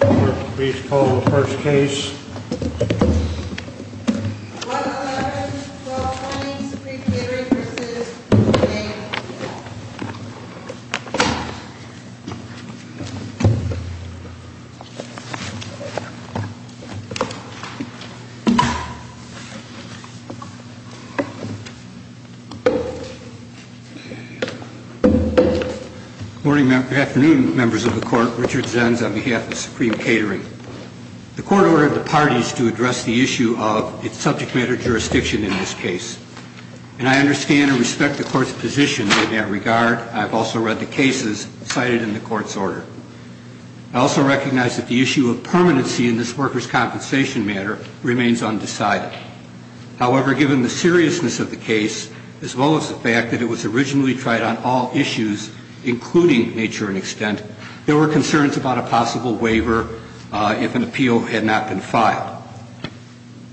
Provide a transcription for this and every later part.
Court, please call the first case. 11-1220, Supreme Catering v. Catering Good afternoon, Members of the Court. Richard Zenz on behalf of Supreme Catering. The Court ordered the parties to address the issue of its subject matter jurisdiction in this case. And I understand and respect the Court's position in that regard. I've also read the cases cited in the Court's order. I also recognize that the issue of permanency in this workers' compensation matter remains undecided. However, given the seriousness of the case, as well as the fact that it was originally tried on all issues, including nature and extent, there were concerns about a possible waiver if an appeal had not been filed.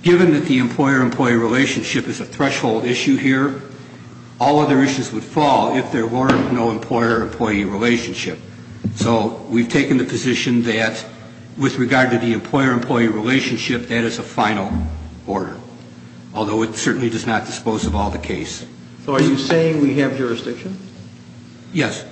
Given that the employer-employee relationship is a threshold issue here, all other issues would fall if there were no employer-employee relationship. So we've taken the position that, with regard to the employer-employee relationship, that is a final order, although it certainly does not dispose of all the case. So are you saying we have jurisdiction? Yes.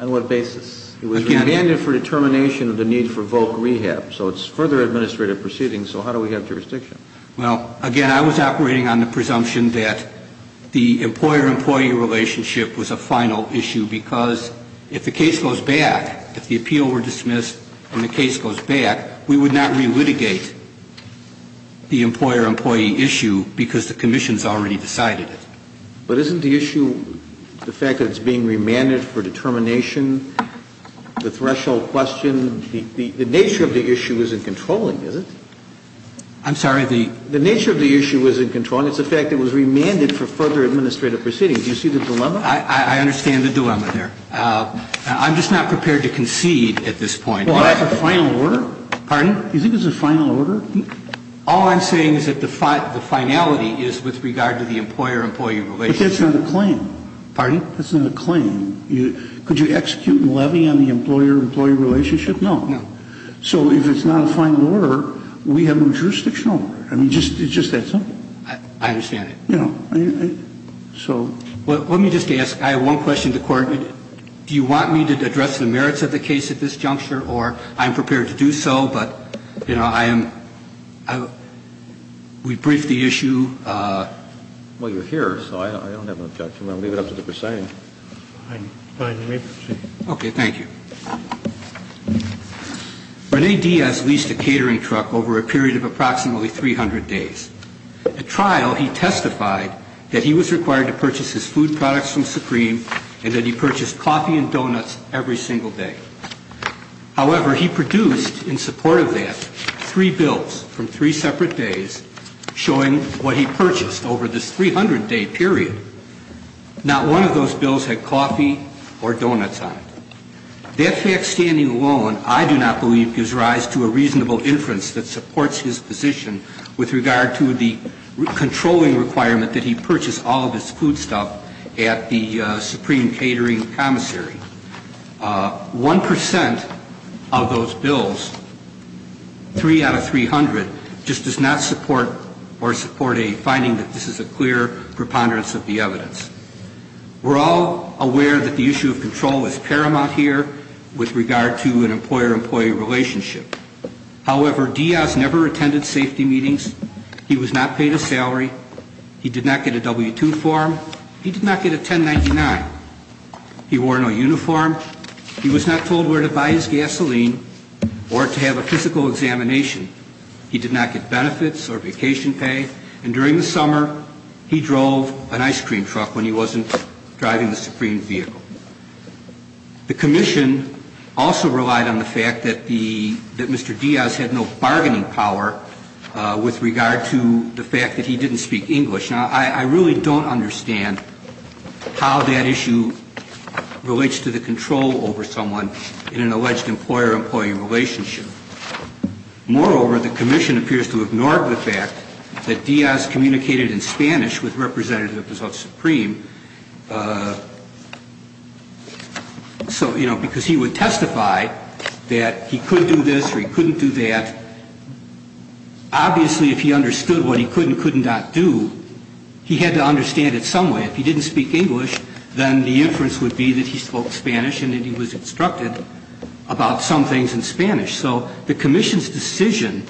On what basis? It was remanded for determination of the need for VOC rehab, so it's further administrative proceedings, so how do we have jurisdiction? Well, again, I was operating on the presumption that the employer-employee relationship was a final issue because if the case goes back, if the appeal were dismissed and the case goes back, we would not relitigate the employer-employee issue because the Commission's already decided it. But isn't the issue the fact that it's being remanded for determination, the threshold question? The nature of the issue isn't controlling, is it? I'm sorry? The nature of the issue isn't controlling. It's the fact that it was remanded for further administrative proceedings. Do you see the dilemma? I understand the dilemma there. I'm just not prepared to concede at this point. Well, is it a final order? Pardon? Do you think it's a final order? All I'm saying is that the finality is with regard to the employer-employee relationship. But that's not a claim. Pardon? That's not a claim. Could you execute levy on the employer-employee relationship? No. No. So if it's not a final order, we have no jurisdiction over it. I mean, it's just that simple. I understand it. You know, so. Well, let me just ask. I have one question to the Court. Do you want me to address the merits of the case at this juncture, or I'm prepared to do so, but, you know, I am, we briefed the issue. Well, you're here, so I don't have an objection. I'm going to leave it up to the proceeding. Fine. Fine. You may proceed. Okay. Thank you. Rene Diaz leased a catering truck over a period of approximately 300 days. At trial, he testified that he was required to purchase his food products from Supreme and that he purchased coffee and donuts every single day. However, he produced, in support of that, three bills from three separate days showing what he purchased over this 300-day period. Not one of those bills had coffee or donuts on it. That fact standing alone, I do not believe, gives rise to a reasonable inference that he purchased all of his food stuff at the Supreme Catering Commissary. One percent of those bills, three out of 300, just does not support or support a finding that this is a clear preponderance of the evidence. We're all aware that the issue of control is paramount here with regard to an employer-employee relationship. However, Diaz never attended safety meetings. He was not paid a salary. He did not get a W-2 form. He did not get a 1099. He wore no uniform. He was not told where to buy his gasoline or to have a physical examination. He did not get benefits or vacation pay. And during the summer, he drove an ice cream truck when he wasn't driving the Supreme vehicle. The commission also relied on the fact that Mr. Diaz had no bargaining power with regard to the fact that he didn't speak English. Now, I really don't understand how that issue relates to the control over someone in an alleged employer-employee relationship. Moreover, the commission appears to ignore the fact that Diaz communicated in Spanish with Representative de la Supreme because he would testify that he could do this or he couldn't do that. Obviously, if he understood what he could and could not do, he had to understand it some way. If he didn't speak English, then the inference would be that he spoke Spanish and that he was instructed about some things in Spanish. So the commission's decision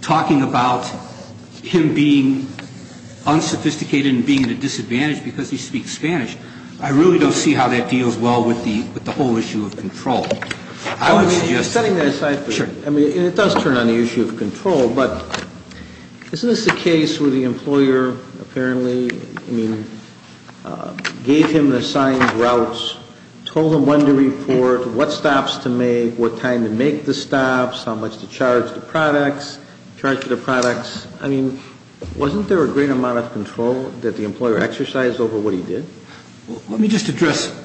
talking about him being unsophisticated and being at a disadvantage because he speaks Spanish, I really don't see how that deals well with the whole issue of control. I would suggest... I mean, it does turn on the issue of control, but isn't this a case where the employer apparently, I mean, gave him the assigned routes, told him when to report, what stops to make, what time to make the stops, how much to charge the products, charge for the products. I mean, wasn't there a greater amount of control that the employer exercised over what he did? Let me just address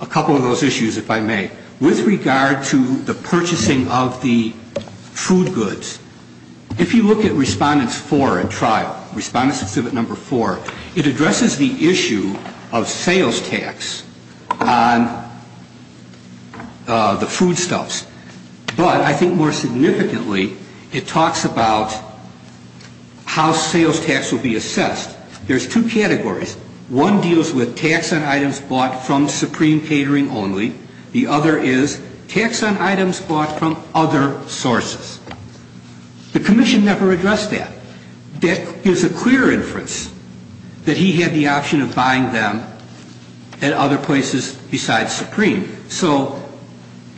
a couple of those issues, if I may. With regard to the purchasing of the food goods, if you look at Respondents 4 at trial, Respondents Exhibit 4, it addresses the issue of sales tax on the foodstuffs. But I think more significantly, it talks about how sales tax will be assessed. There's two categories. One deals with tax on items bought from Supreme Catering only. The other is tax on items bought from other sources. The commission never addressed that. That gives a clear inference that he had the option of buying them at other places besides Supreme. So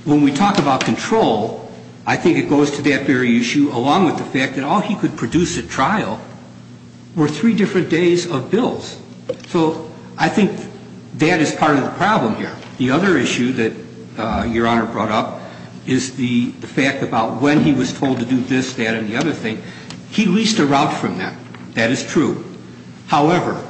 when we talk about control, I think it goes to that very issue, along with the fact that all he could produce at trial were three different days of bills. So I think that is part of the problem here. The other issue that Your Honor brought up is the fact about when he was told to do this, that, and the other thing. He leased a route from them. That is true. However,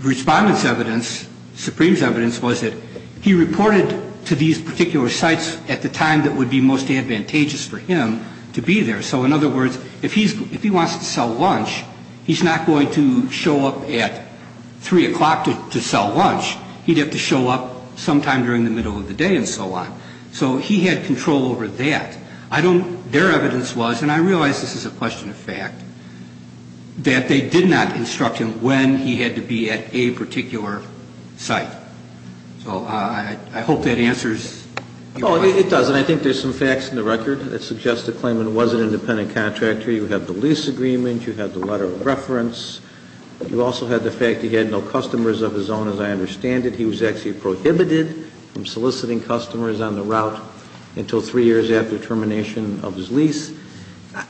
Respondent's evidence, Supreme's evidence was that he reported to these particular sites at the time that would be most advantageous for him to be there. So in other words, if he wants to sell lunch, he's not going to show up at 3 o'clock to sell lunch. He'd have to show up sometime during the middle of the day and so on. So he had control over that. Their evidence was, and I realize this is a question of fact, that they did not instruct him when he had to be at a particular site. So I hope that answers your question. No, it doesn't. I think there's some facts in the record that suggest the claimant was an independent contractor. You have the lease agreement. You have the letter of reference. You also have the fact he had no customers of his own, as I understand it. He was actually prohibited from soliciting customers on the route until three years after termination of his lease.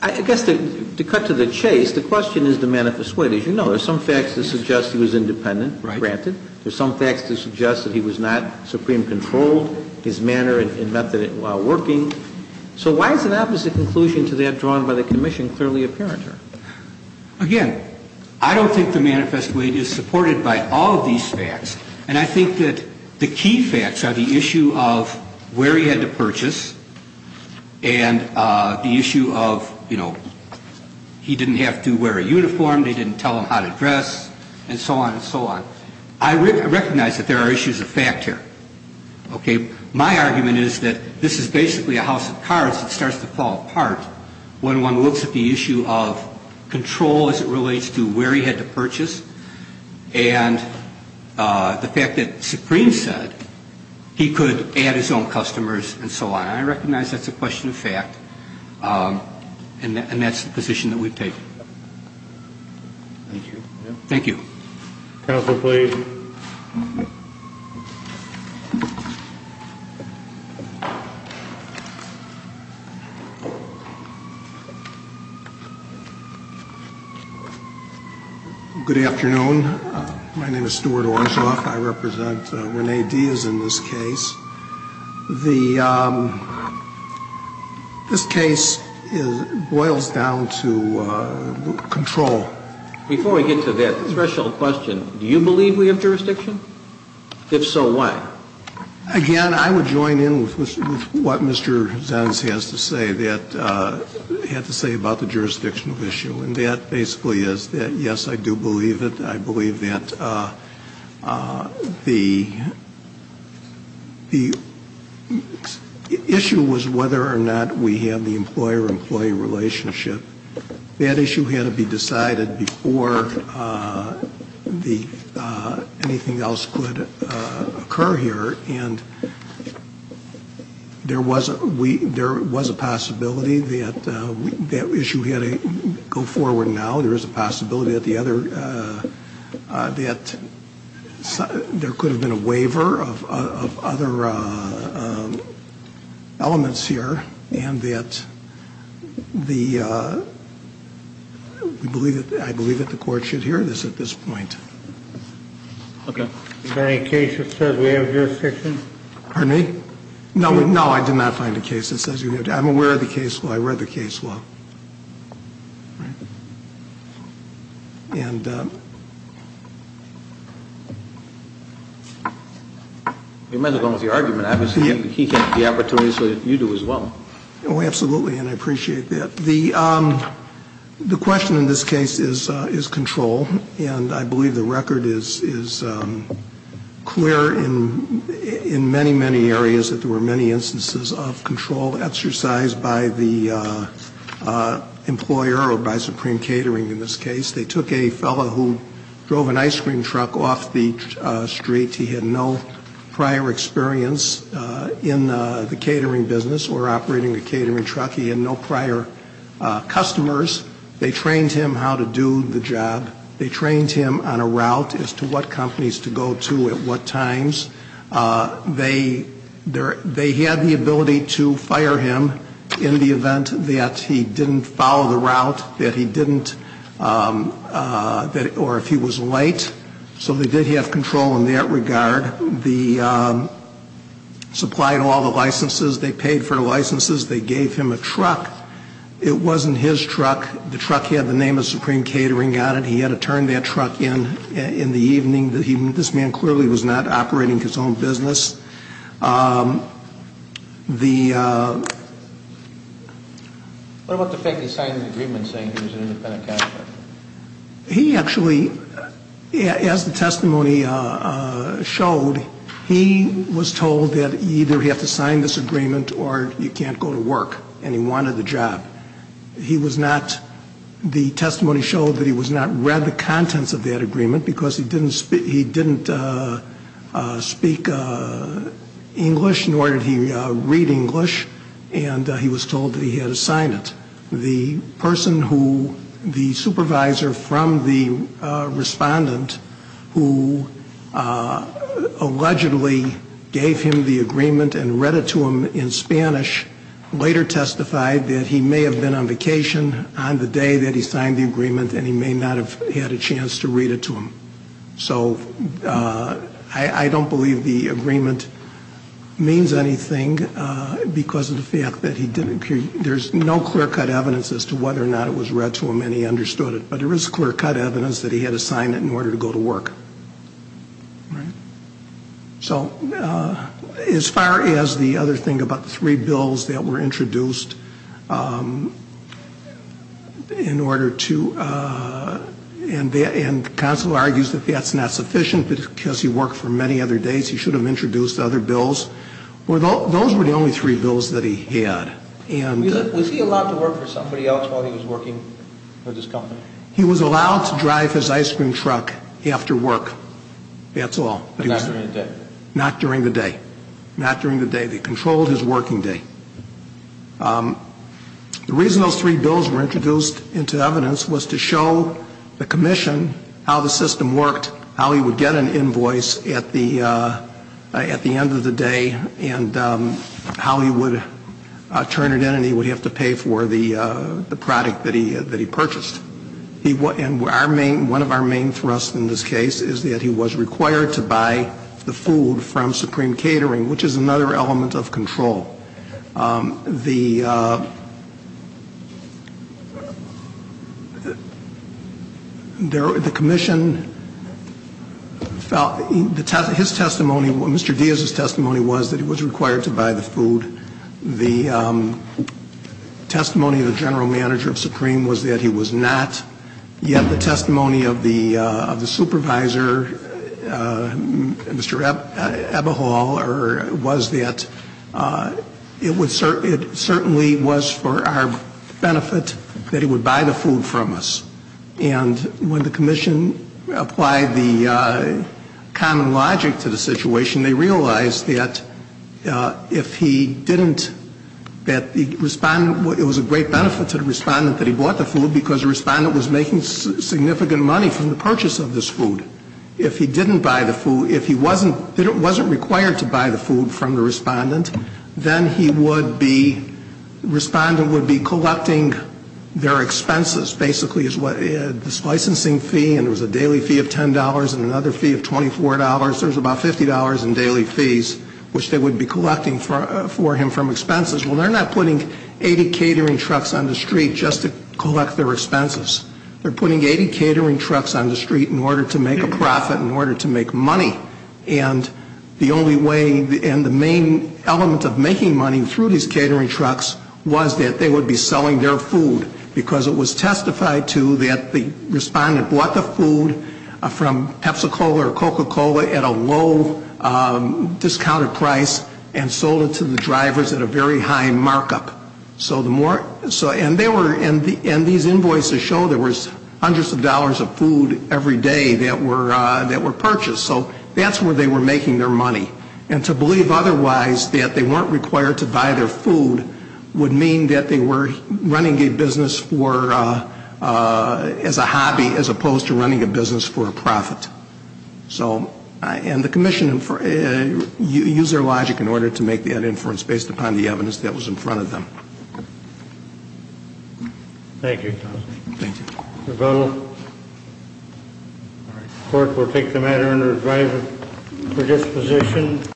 I guess to cut to the chase, the question is the manifest weight. As you know, there's some facts that suggest he was independent, granted. There's some facts that suggest that he was not supreme controlled, his manner and method while working. So why is an opposite conclusion to that drawn by the Commission clearly apparent here? Again, I don't think the manifest weight is supported by all of these facts. And I think that the key facts are the issue of where he had to purchase and the issue of, you know, he didn't have to wear a uniform, they didn't tell him how to dress and so on and so on. I recognize that there are issues of fact here. Okay? My argument is that this is basically a house of cards that starts to fall apart when one looks at the issue of control as it relates to where he had to purchase and the fact that Supreme said he could add his own customers and so on. I recognize that's a question of fact. And that's the position that we take. Thank you. Thank you. Counsel, please. Good afternoon. My name is Stuart Orshoff. I represent Rene Diaz in this case. This case boils down to control. Before we get to that threshold question, do you believe we have jurisdiction? If so, why? Again, I would join in with what Mr. Zanz has to say about the jurisdictional issue. And that basically is that, yes, I do believe it. I believe that the issue was whether or not we have the employer-employee relationship. That issue had to be decided before anything else could occur here. And there was a possibility that that issue had to go forward now. There is a possibility that there could have been a waiver of other elements here. And I believe that the Court should hear this at this point. Okay. Is there any case that says we have jurisdiction? Pardon me? No, I did not find a case that says we have jurisdiction. I'm aware of the case law. I read the case law. You might have gone with your argument. He had the opportunity, so you do as well. Oh, absolutely. And I appreciate that. The question in this case is control. And I believe the record is clear in many, many areas that there were many instances of control exercised by the employer or by Supreme Catering in this case. They took a fellow who drove an ice cream truck off the street. He had no prior experience in the catering business or operating a catering truck. He had no prior customers. They trained him how to do the job. They trained him on a route as to what companies to go to at what times. They had the ability to fire him in the event that he didn't follow the route, that he didn't, or if he was late. So they did have control in that regard. They supplied all the licenses. They paid for the licenses. They gave him a truck. It wasn't his truck. The truck had the name of Supreme Catering on it. He had to turn that truck in in the evening. This man clearly was not operating his own business. What about the fact that he signed an agreement saying he was an independent cash collector? He actually, as the testimony showed, he was told that either he had to sign this agreement or he can't go to work and he wanted the job. He was not, the testimony showed that he was not read the contents of that agreement because he didn't speak English, nor did he read English, and he was told that he had to sign it. The person who, the supervisor from the respondent who allegedly gave him the agreement and read it to him in Spanish later testified that he may have been on vacation on the day that he signed the agreement and he may not have had a chance to read it to him. So I don't believe the agreement means anything because of the fact that he didn't. There's no clear-cut evidence as to whether or not it was read to him and he understood it, but there is clear-cut evidence that he had to sign it in order to go to work. So as far as the other thing about the three bills that were introduced in order to, and the counsel argues that that's not sufficient because he worked for many other days. He should have introduced other bills. Those were the only three bills that he had. Was he allowed to work for somebody else while he was working for this company? He was allowed to drive his ice cream truck after work. That's all. Not during the day? Not during the day. Not during the day. They controlled his working day. The reason those three bills were introduced into evidence was to show the commission how the system worked, how he would get an invoice at the end of the day, and how he would turn it in and he would have to pay for the product that he purchased. And one of our main thrusts in this case is that he was required to buy the food from Supreme Catering, which is another element of control. The commission felt, his testimony, Mr. Diaz's testimony was that he was required to buy the food. The testimony of the general manager of Supreme was that he was not. Yet the testimony of the supervisor, Mr. Eberhall, was that it certainly was for our benefit that he would buy the food from us. And when the commission applied the common logic to the situation, they realized that if he didn't, that the respondent, it was a great benefit to the respondent that he bought the food because the respondent was making significant money from the purchase of this food. If he didn't buy the food, if he wasn't required to buy the food from the respondent, then he would be, the respondent would be collecting their expenses, basically. This licensing fee, and there was a daily fee of $10 and another fee of $24. There was about $50 in daily fees, which they would be collecting for him from expenses. Well, they're not putting 80 catering trucks on the street just to collect their expenses. They're putting 80 catering trucks on the street in order to make a profit, in order to make money. And the only way, and the main element of making money through these catering trucks was that they would be selling their food because it was testified to that the respondent bought the food from Pepsi-Cola or Coca-Cola at a low discounted price and sold it to the drivers at a very high markup. And these invoices show there was hundreds of dollars of food every day that were purchased. So that's where they were making their money. And to believe otherwise, that they weren't required to buy their food, would mean that they were running a business as a hobby as opposed to running a business for a profit. And the commission used their logic in order to make that inference based upon the evidence that was in front of them. Thank you, counsel. Thank you. The court will take the matter under advisory for disposition.